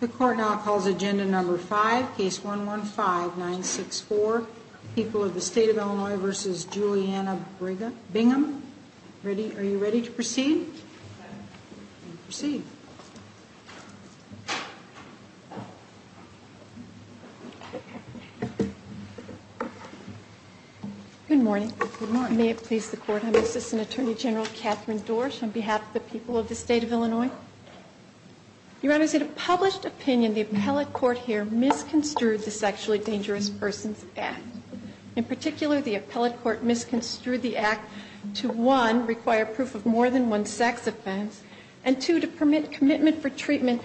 The court now calls agenda number 5, case 115-964, People of the State of Illinois v. Juliana Bingham. Are you ready to proceed? Proceed. Good morning. May it please the court, I'm Assistant Attorney General of Illinois. Your Honors, in a published opinion, the appellate court here misconstrued the Sexually Dangerous Persons Act. In particular, the appellate court misconstrued the act to, one, require proof of more than one sex offense, and two, to permit commitment for treatment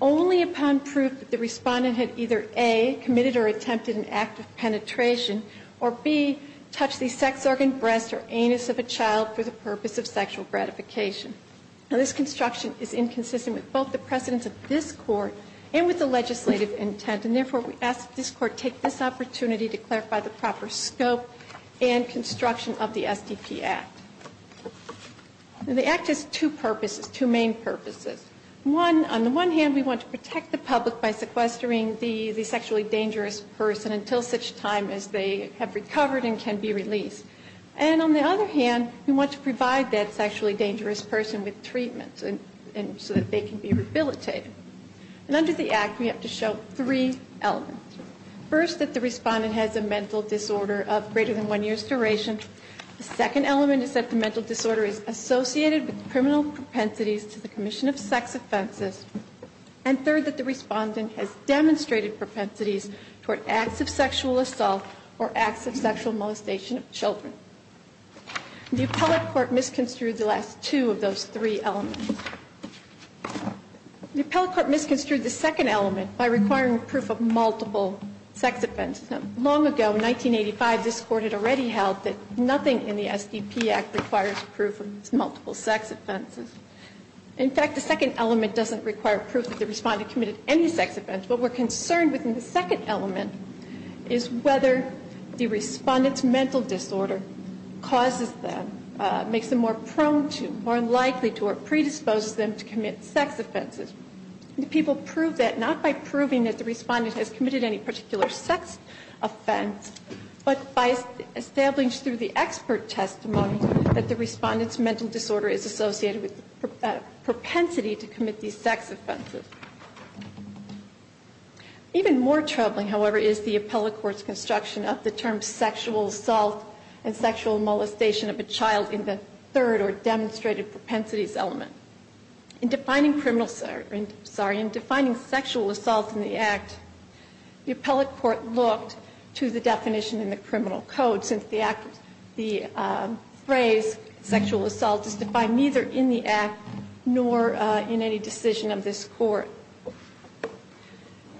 only upon proof that the respondent had either, A, committed or attempted an act of penetration, or, B, touched the sex organ, breast, or anus of a child for the purpose of sexual gratification. Now, this construction is inconsistent with both the precedents of this Court and with the legislative intent, and therefore, we ask that this Court take this opportunity to clarify the proper scope and construction of the SDP Act. The act has two purposes, two main purposes. One, on the one hand, we want to protect the public by sequestering the sexually dangerous person until such time as they have recovered and can be released. And on the other hand, we want to provide that sexually dangerous person with treatment so that they can be rehabilitated. And under the act, we have to show three elements. First, that the respondent has a mental disorder of greater than one year's duration. The second element is that the mental disorder is associated with criminal propensities to the commission of sex offenses. And third, that the respondent has demonstrated propensities toward acts of sexual molestation of children. The appellate court misconstrued the last two of those three elements. The appellate court misconstrued the second element by requiring proof of multiple sex offenses. Long ago, in 1985, this Court had already held that nothing in the SDP Act requires proof of multiple sex offenses. In fact, the second element doesn't require proof that the respondent committed any sex offense. What we're concerned with in the second element is whether the respondent's mental disorder causes them, makes them more prone to, more likely to, or predisposes them to commit sex offenses. Do people prove that, not by proving that the respondent has committed any particular sex offense, but by establishing through the expert testimony that the respondent's mental disorder is associated with propensity to commit these sex offenses? Even more troubling, however, is the appellate court's construction of the term sexual assault and sexual molestation of a child in the third, or demonstrated propensities, element. In defining sexual assault in the Act, the appellate court looked to the definition in the criminal code, since the phrase sexual assault is defined neither in the Act, nor in any decision of this court.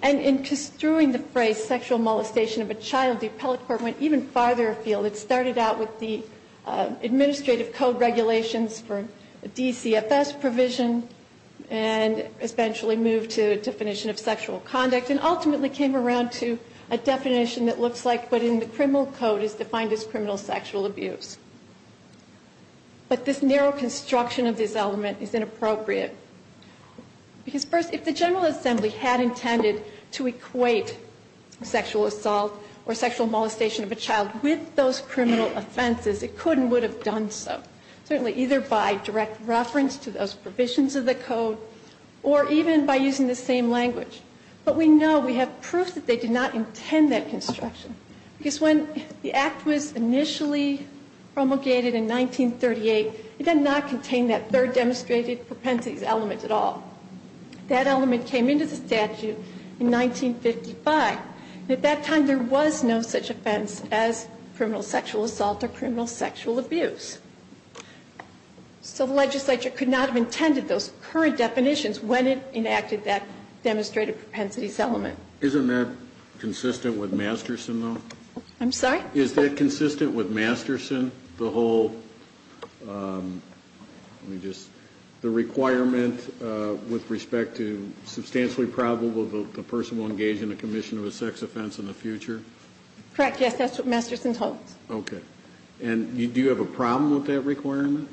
And in construing the phrase sexual molestation of a child, the appellate court went even farther afield. It started out with the administrative code regulations for DCFS provision, and eventually moved to a definition of sexual conduct, and ultimately came around to a definition that looks like what in the criminal code is defined as criminal sexual abuse. But this narrow construction of this element is inappropriate. Because first, if the General Assembly had intended to equate sexual assault or sexual molestation of a child with those criminal offenses, it could and would have done so. Certainly either by direct reference to those provisions of the code, or even by using the same language. But we know, we have proof that they did not intend that construction. Because when the Act was initially promulgated in 1938, it did not contain that third demonstrated propensities element at all. That element came into the statute in 1955. At that time, there was no such offense as criminal sexual assault or criminal sexual abuse. So the legislature could not have intended those current definitions when it enacted that demonstrated propensities element. Isn't that consistent with Masterson, though? I'm sorry? Is that consistent with Masterson, the whole, let me just, the requirement with respect to substantially probable the person will engage in a commission of a sex offense in the future? Correct, yes. That's what Masterson told us. Okay. And do you have a problem with that requirement?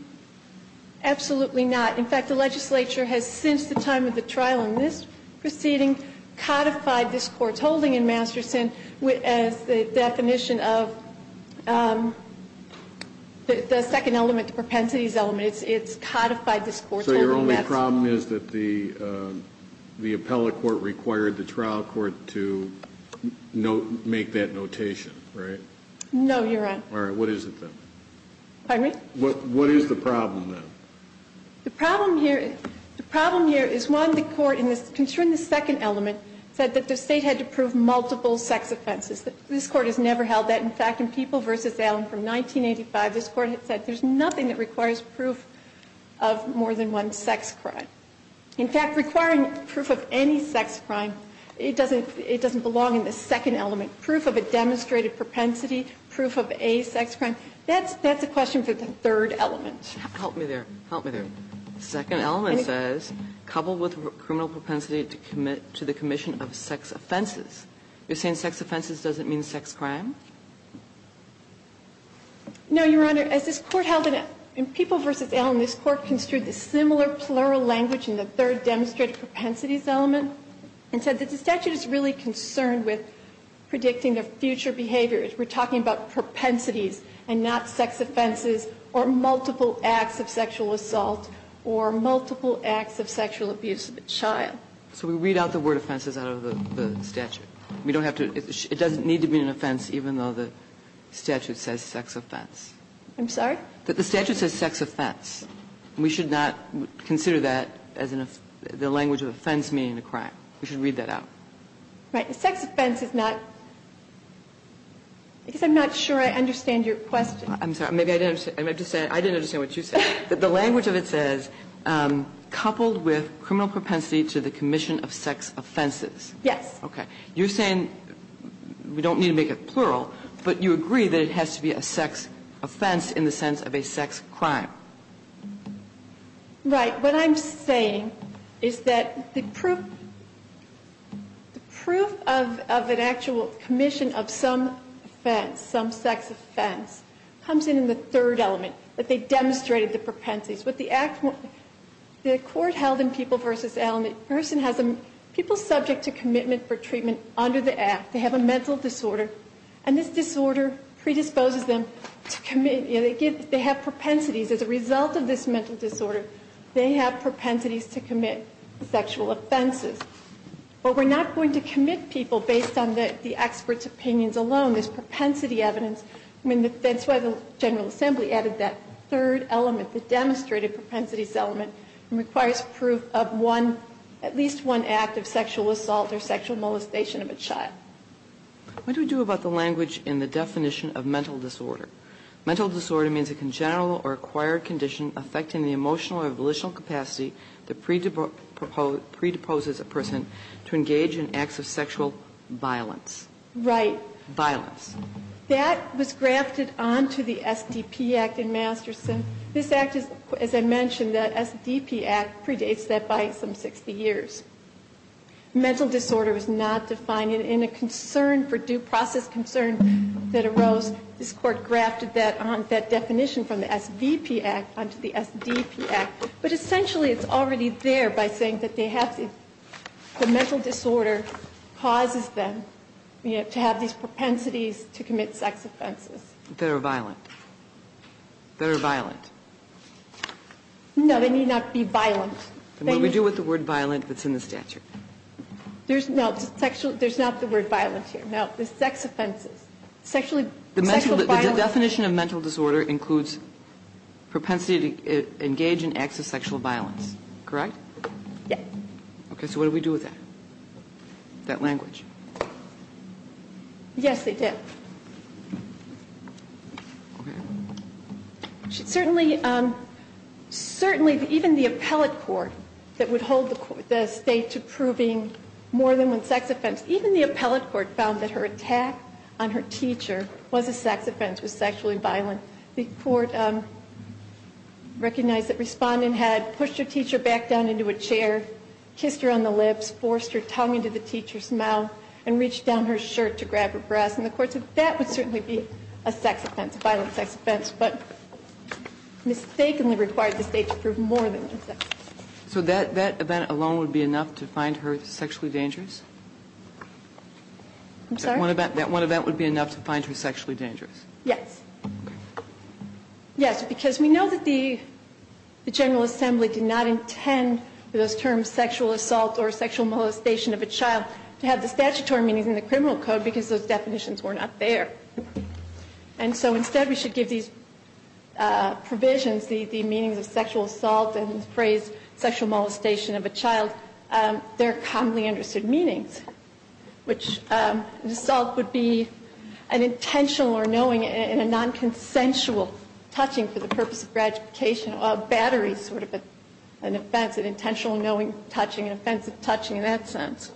Absolutely not. In fact, the legislature has, since the time of the trial in this proceeding, codified this Court's holding in Masterson as the definition of the second element, the propensities element. It's codified this Court's holding. So your only problem is that the appellate court required the trial court to make that notation, right? No, you're right. All right. What is it, then? Pardon me? What is the problem, then? The problem here is, one, the Court, concerning the second element, said that the State had to prove multiple sex offenses. This Court has never held that. In fact, in People v. Allen from 1985, this Court had said there's nothing that requires proof of more than one sex crime. In fact, requiring proof of any sex crime, it doesn't belong in the second element. Proof of a demonstrated propensity, proof of a sex crime, that's a question for the third element. Help me there. The second element says, coupled with criminal propensity to commit to the commission of sex offenses. You're saying sex offenses doesn't mean sex crime? No, Your Honor. As this Court held in People v. Allen, this Court construed the similar plural language in the third demonstrated propensities element and said that the statute is really concerned with predicting the future behavior. We're talking about propensities and not sex offenses or multiple acts of sexual assault or multiple acts of sexual abuse of a child. So we read out the word offenses out of the statute. We don't have to – it doesn't need to be an offense even though the statute says sex offense. I'm sorry? The statute says sex offense. We should not consider that as an – the language of offense meaning a crime. We should read that out. Right. The sex offense is not – I guess I'm not sure I understand your question. I'm sorry. Maybe I didn't understand. I meant to say I didn't understand what you said, that the language of it says coupled with criminal propensity to the commission of sex offenses. Yes. Okay. You're saying we don't need to make it plural, but you agree that it has to be a sex offense in the sense of a sex crime. Right. What I'm saying is that the proof of an actual commission of some offense, some sex offense, comes in in the third element, that they demonstrated the propensities. With the act – the court held in People v. Allen, the person has a – people subject to commitment for treatment under the act. They have a mental disorder and this disorder predisposes them to – they have propensities. As a result of this mental disorder, they have propensities to commit sexual offenses. But we're not going to commit people based on the expert's opinions alone. There's propensity evidence. I mean, that's why the General Assembly added that third element, the demonstrated propensities element, and requires proof of one – at least one act of sexual assault or sexual molestation of a child. What do we do about the language in the definition of mental disorder? Mental disorder means a congenital or acquired condition affecting the emotional or volitional capacity that predisposes a person to engage in acts of sexual violence. Right. Violence. That was grafted onto the SDP Act in Masterson. This Act is – as I mentioned, the SDP Act predates that by some 60 years. Mental disorder was not defined. In a concern for due process concern that arose, this Court grafted that on – that definition from the SVP Act onto the SDP Act. But essentially, it's already there by saying that they have – the mental disorder causes them to have these propensities to commit sex offenses. That are violent. That are violent. No, they need not be violent. What do we do with the word violent that's in the statute? There's – no, sexual – there's not the word violent here. No, the sex offenses. Sexually – sexual violence. The definition of mental disorder includes propensity to engage in acts of sexual violence. Correct? Yes. Okay. So what do we do with that? That language? Yes, they did. Certainly, even the appellate court that would hold the state to proving more than one sex offense – even the appellate court found that her attack on her teacher was a sex offense, was sexually violent. The court recognized that respondent had pushed her teacher back down into a chair, kissed her on the lips, forced her tongue into the teacher's mouth, and reached down her shirt to grab her breast. And the court said that would certainly be a sex offense, a violent sex offense, but mistakenly required the state to prove more than one sex offense. So that event alone would be enough to find her sexually dangerous? I'm sorry? That one event would be enough to find her sexually dangerous? Yes. Yes, because we know that the General Assembly did not intend for those terms, sexual assault or sexual molestation of a child, to have the statutory meanings in the criminal code because those definitions were not there. And so instead we should give these provisions, the meanings of sexual assault and the phrase sexual molestation of a child, their commonly understood meanings. Which assault would be an intentional or knowing and a non-consensual touching for the purpose of gratification or battery, sort of an offense, an intentional knowing touching, an offensive touching in that sense.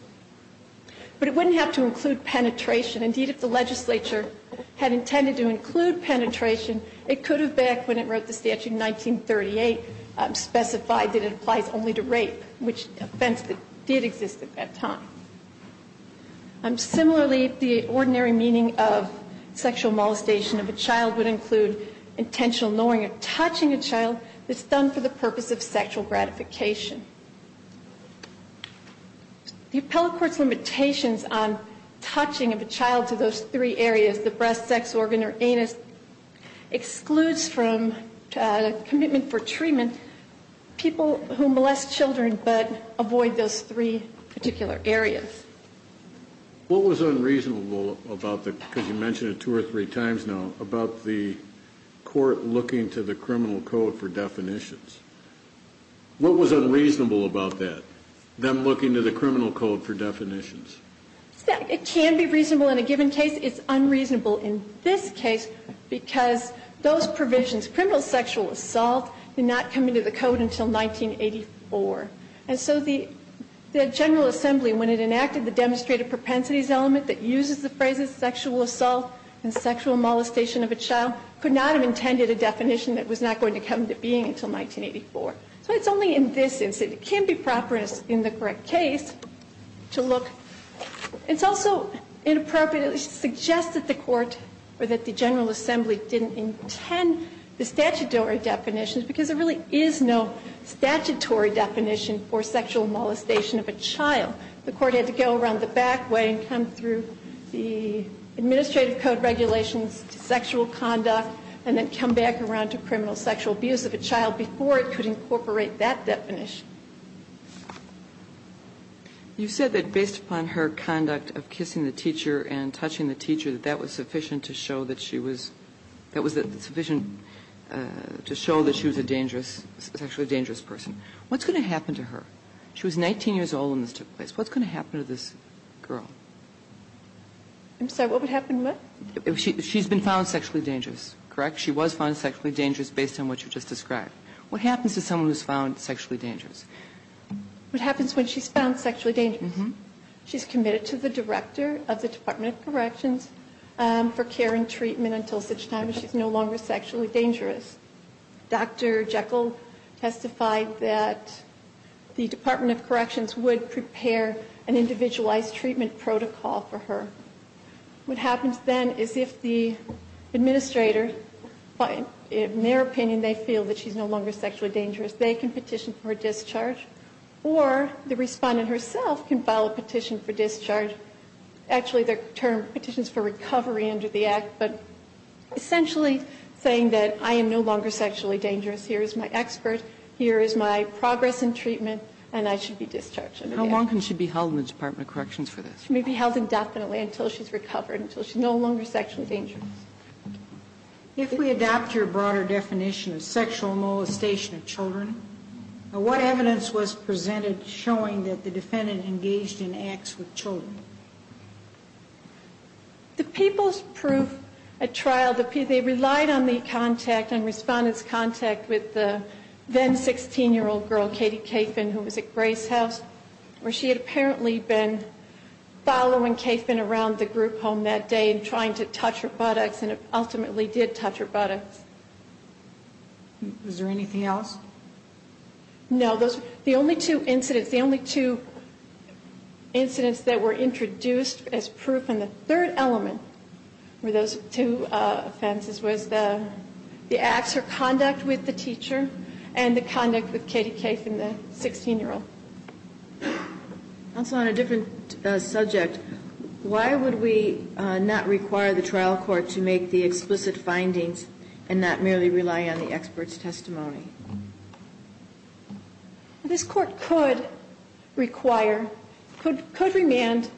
But it wouldn't have to include penetration. Indeed, if the legislature had intended to include penetration, it could have back when it wrote the statute in 1938 specified that it applies only to rape, which offense did exist at that time. Similarly, the ordinary meaning of sexual molestation of a child would include intentional knowing or touching a child that's done for the purpose of sexual gratification. The appellate court's limitations on touching of a child to those three areas, the breast, sex organ or anus, excludes from commitment for treatment people who molest children but avoid those three particular areas. What was unreasonable about the, because you mentioned it two or three times now, about the court looking to the criminal code for definitions? What was unreasonable about that, them looking to the criminal code for definitions? It can be reasonable in a given case. It's unreasonable in this case because those provisions, criminal sexual assault, did not come into the code until 1984. And so the General Assembly, when it enacted the demonstrated propensities element that uses the phrases sexual assault and sexual molestation of a child, could not have intended a definition that was not going to come to being until 1984. So it's only in this instance. It can be proper in the correct case to look. It's also inappropriate to suggest that the court or that the General Assembly didn't intend the statutory definitions because there really is no statutory definition for sexual molestation of a child. The court had to go around the back way and come through the administrative code regulations to sexual conduct and then come back around to criminal sexual abuse of a child before it could incorporate that definition. You said that based upon her conduct of kissing the teacher and touching the teacher that that was sufficient to show that she was, that was sufficient to show that she was a dangerous, sexually dangerous person. What's going to happen to her? She was 19 years old when this took place. What's going to happen to this girl? I'm sorry, what would happen what? She's been found sexually dangerous, correct? She was found sexually dangerous based on what you just described. What happens to someone who's found sexually dangerous? What happens when she's found sexually dangerous? She's committed to the director of the Department of Corrections for care and treatment until such time as she's no longer sexually dangerous. Dr. Jekyll testified that the Department of Corrections would prepare an individualized treatment protocol for her. What happens then is if the administrator, in their opinion, they feel that she's no longer sexually dangerous, they can petition for a discharge, or the Respondent herself can file a petition for discharge. Actually, the term petition is for recovery under the Act, but essentially saying that I am no longer sexually dangerous, here is my expert, here is my progress in treatment, and I should be discharged. How long can she be held in the Department of Corrections for this? She may be held indefinitely until she's recovered, until she's no longer sexually dangerous. If we adopt your broader definition of sexual molestation of children, what evidence was presented showing that the defendant engaged in acts with children? The people's proof at trial, they relied on the contact and Respondent's then-16-year-old girl, Katie Kaepfen, who was at Grace House, where she had apparently been following Kaepfen around the group home that day and trying to touch her buttocks, and ultimately did touch her buttocks. Was there anything else? No. The only two incidents that were introduced as proof, and the third element were those two offenses, was the acts or conduct with the teacher and the conduct with Katie Kaepfen, the 16-year-old. Counsel, on a different subject, why would we not require the trial court to make the explicit findings and not merely rely on the expert's testimony? This court could require, could remand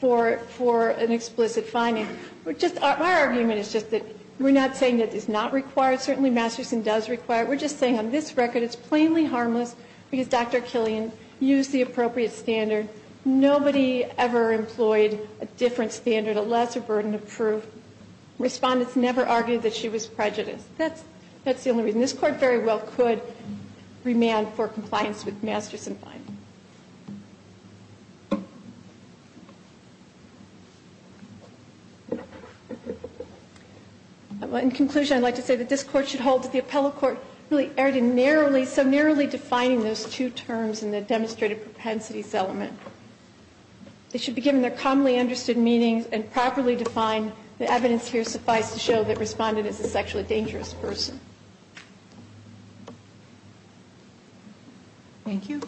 for an explicit finding. My argument is just that we're not saying that it's not required. Certainly Masterson does require it. We're just saying on this record it's plainly harmless because Dr. Killian used the appropriate standard. Nobody ever employed a different standard, a lesser burden of proof. Respondents never argued that she was prejudiced. That's the only reason. This court very well could remand for compliance with Masterson findings. In conclusion, I'd like to say that this Court should hold that the appellate court really erred in narrowly, so narrowly defining those two terms in the demonstrated propensities element. They should be given their commonly understood meanings and properly defined. The evidence here suffice to show that Respondent is a sexually dangerous person. Thank you.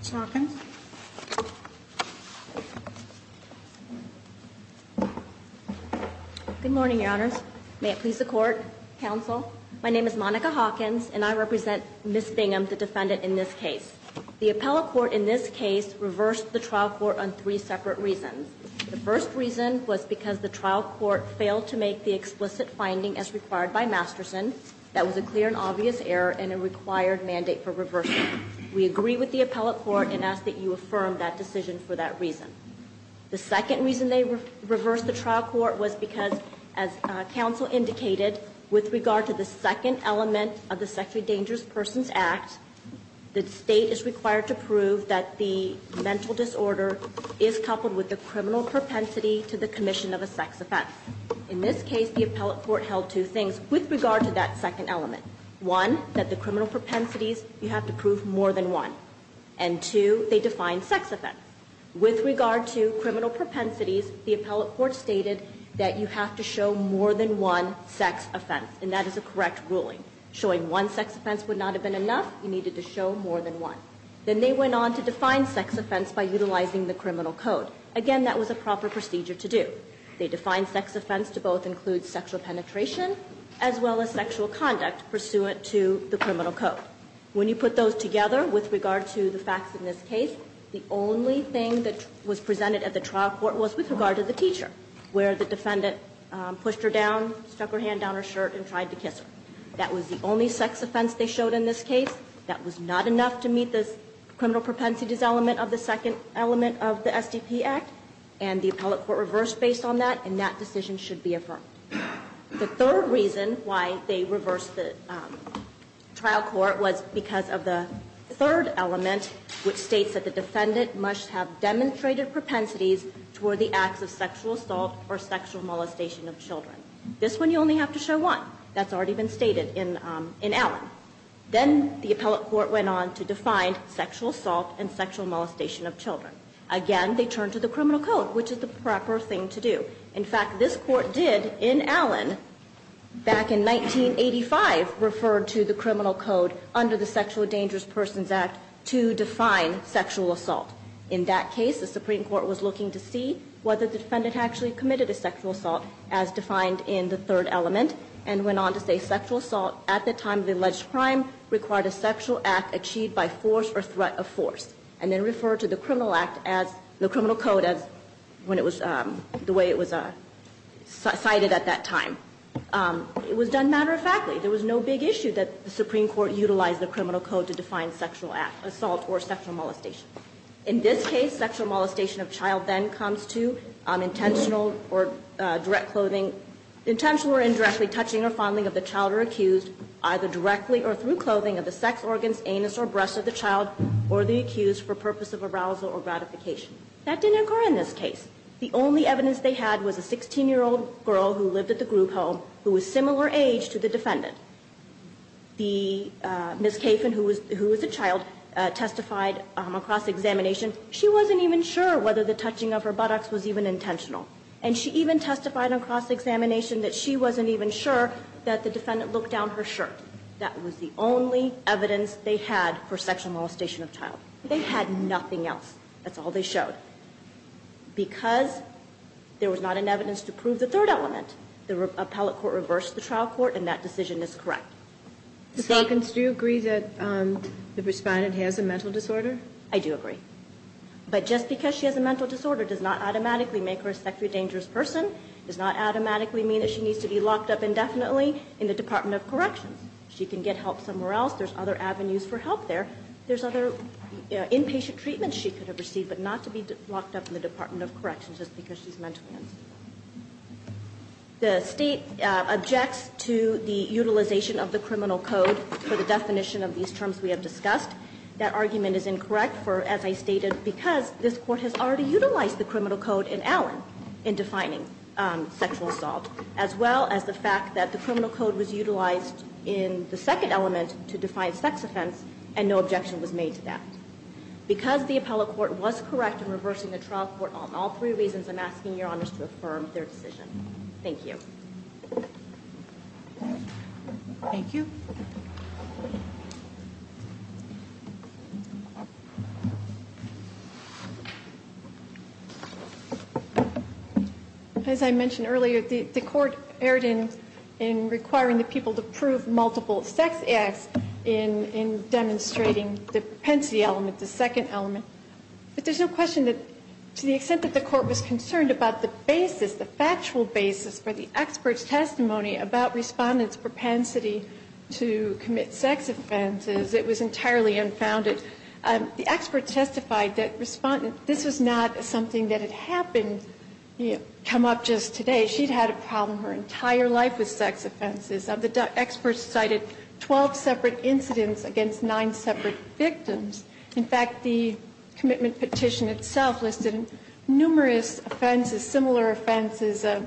Ms. Hawkins. Good morning, Your Honors. May it please the Court, Counsel. My name is Monica Hawkins and I represent Ms. Bingham, the defendant in this case. The appellate court in this case reversed the trial court on three separate reasons. The first reason was because the trial court failed to make the explicit finding as required by Masterson that was a clear and obvious error and a required mandate for reversing. We agree with the appellate court and ask that you affirm that decision for that reason. The second reason they reversed the trial court was because, as Counsel indicated, with regard to the second element of the Sexually Dangerous Persons Act, the State is required to prove that the mental disorder is coupled with the criminal propensity to the commission of a sex offense. In this case, the appellate court held two things with regard to that second element. One, that the criminal propensities, you have to prove more than one. And two, they defined sex offense. With regard to criminal propensities, the appellate court stated that you have to show more than one sex offense, and that is a correct ruling. Showing one sex offense would not have been enough. You needed to show more than one. Then they went on to define sex offense by utilizing the criminal code. Again, that was a proper procedure to do. They defined sex offense to both include sexual penetration as well as sexual conduct pursuant to the criminal code. When you put those together with regard to the facts in this case, the only thing that was presented at the trial court was with regard to the teacher, where the defendant pushed her down, stuck her hand down her shirt, and tried to kiss her. That was the only sex offense they showed in this case. That was not enough to meet the criminal propensities element of the second element of the SDP Act. And the appellate court reversed based on that, and that decision should be affirmed. The third reason why they reversed the trial court was because of the third element, which states that the defendant must have demonstrated propensities toward the acts of sexual assault or sexual molestation of children. This one you only have to show one. That's already been stated in Allen. Then the appellate court went on to define sexual assault and sexual molestation of children. Again, they turned to the criminal code, which is the proper thing to do. In fact, this Court did, in Allen, back in 1985, refer to the criminal code under the Sexual Dangerous Persons Act to define sexual assault. In that case, the Supreme Court was looking to see whether the defendant actually committed a sexual assault as defined in the third element, and went on to say sexual assault at the time of the alleged crime required a sexual act achieved by force or threat of force. And then referred to the criminal act as the criminal code as when it was the way it was cited at that time. It was done matter-of-factly. There was no big issue that the Supreme Court utilized the criminal code to define sexual assault or sexual molestation. In this case, sexual molestation of child then comes to intentional or direct clothing, intentional or indirectly touching or fondling of the child or accused, either directly or through clothing of the sex organs, anus or breast of the child or the accused for purpose of arousal or gratification. That didn't occur in this case. The only evidence they had was a 16-year-old girl who lived at the group home who was similar age to the defendant. The Ms. Caffin, who was a child, testified across examination. She wasn't even sure whether the touching of her buttocks was even intentional. And she even testified across examination that she wasn't even sure that the defendant looked down her shirt. That was the only evidence they had for sexual molestation of child. They had nothing else. That's all they showed. Because there was not enough evidence to prove the third element, the appellate court reversed the trial court, and that decision is correct. Ms. Hawkins, do you agree that the respondent has a mental disorder? I do agree. But just because she has a mental disorder does not automatically make her a sexually dangerous person, does not automatically mean that she needs to be locked up indefinitely in the Department of Corrections. She can get help somewhere else. There's other avenues for help there. There's other inpatient treatments she could have received but not to be locked up in the Department of Corrections just because she's mentally unstable. The State objects to the utilization of the criminal code for the definition of these terms we have discussed. That argument is incorrect for, as I stated, because this Court has already utilized the criminal code in Allen in defining sexual assault, as well as the fact that the criminal code was utilized in the second element to define sex offense, and no objection was made to that. Because the appellate court was correct in reversing the trial court on all three reasons, I'm asking Your Honors to affirm their decision. Thank you. Thank you. As I mentioned earlier, the Court erred in requiring the people to prove multiple sex acts in demonstrating the propensity element, the second element. But there's no question that to the extent that the Court was concerned about the basis, the factual basis for the expert's testimony about respondents' propensity to commit sex offenses, it was entirely unfounded. The expert testified that this was not something that had happened, come up just today. She'd had a problem her entire life with sex offenses. The expert cited 12 separate incidents against nine separate victims. In fact, the commitment petition itself listed numerous offenses, similar offenses as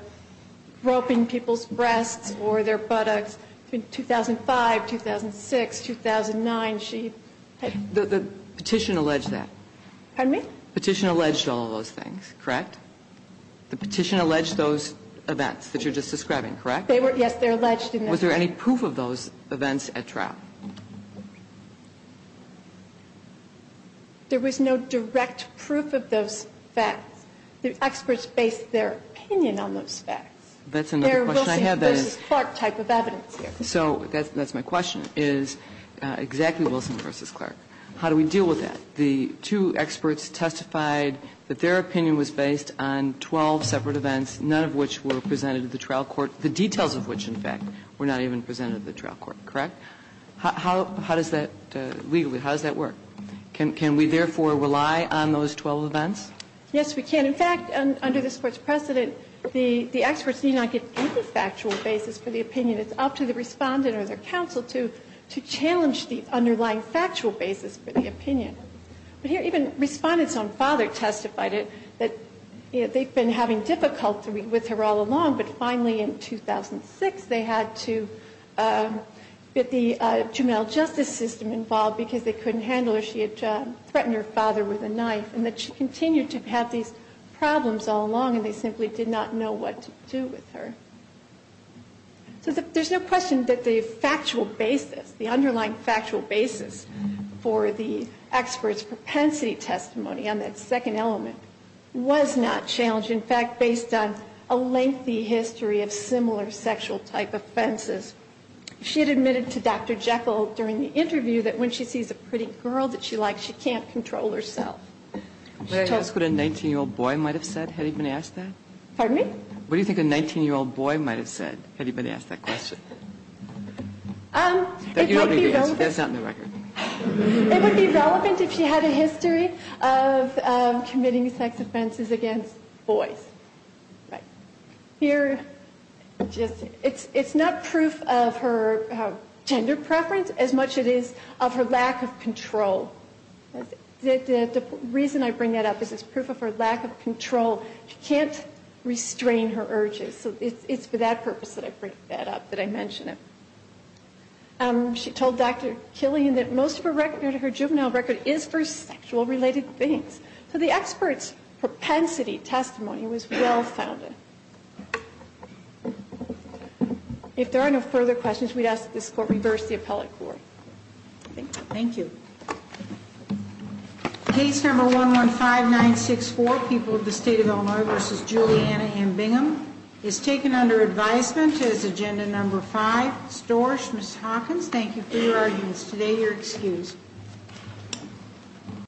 groping people's breasts or their buttocks. In 2005, 2006, 2009, she had. The petition alleged that. Pardon me? The petition alleged all of those things, correct? The petition alleged those events that you're just describing, correct? They were, yes, they're alleged in that case. Was there any proof of those events at trial? There was no direct proof of those facts. The experts based their opinion on those facts. That's another question I have. They're Wilson v. Clark type of evidence here. So that's my question, is exactly Wilson v. Clark. How do we deal with that? The two experts testified that their opinion was based on 12 separate events, none of which were presented at the trial court, the details of which, in fact, were not even presented at the trial court, correct? How does that legally, how does that work? Can we, therefore, rely on those 12 events? Yes, we can. In fact, under this Court's precedent, the experts need not give any factual basis for the opinion. It's up to the respondent or their counsel to challenge the underlying factual basis for the opinion. But here even respondent's own father testified that they've been having difficulty with her all along, but finally in 2006 they had to get the juvenile justice system involved because they couldn't handle her. She had threatened her father with a knife and that she continued to have these problems all along and they simply did not know what to do with her. So there's no question that the factual basis, the underlying factual basis for the experts' propensity testimony on that second element was not challenged. In fact, based on a lengthy history of similar sexual type offenses, she had admitted to Dr. Jekyll during the interview that when she sees a pretty girl that she likes, she can't control herself. May I ask what a 19-year-old boy might have said had he been asked that? Pardon me? What do you think a 19-year-old boy might have said had he been asked that question? That's not in the record. It would be relevant if she had a history of committing sex offenses against boys. Here, it's not proof of her gender preference as much as it is of her lack of control. The reason I bring that up is it's proof of her lack of control. She can't restrain her urges. So it's for that purpose that I bring that up, that I mention it. She told Dr. Killian that most of her juvenile record is for sexual-related things. So the expert's propensity testimony was well-founded. If there are no further questions, we'd ask that this Court reverse the appellate court. Thank you. Thank you. Case No. 115964, People of the State of Illinois v. Juliana Hambingham, is taken under advisement as Agenda No. 5. Storch, Ms. Hawkins, thank you for your arguments today. You're excused.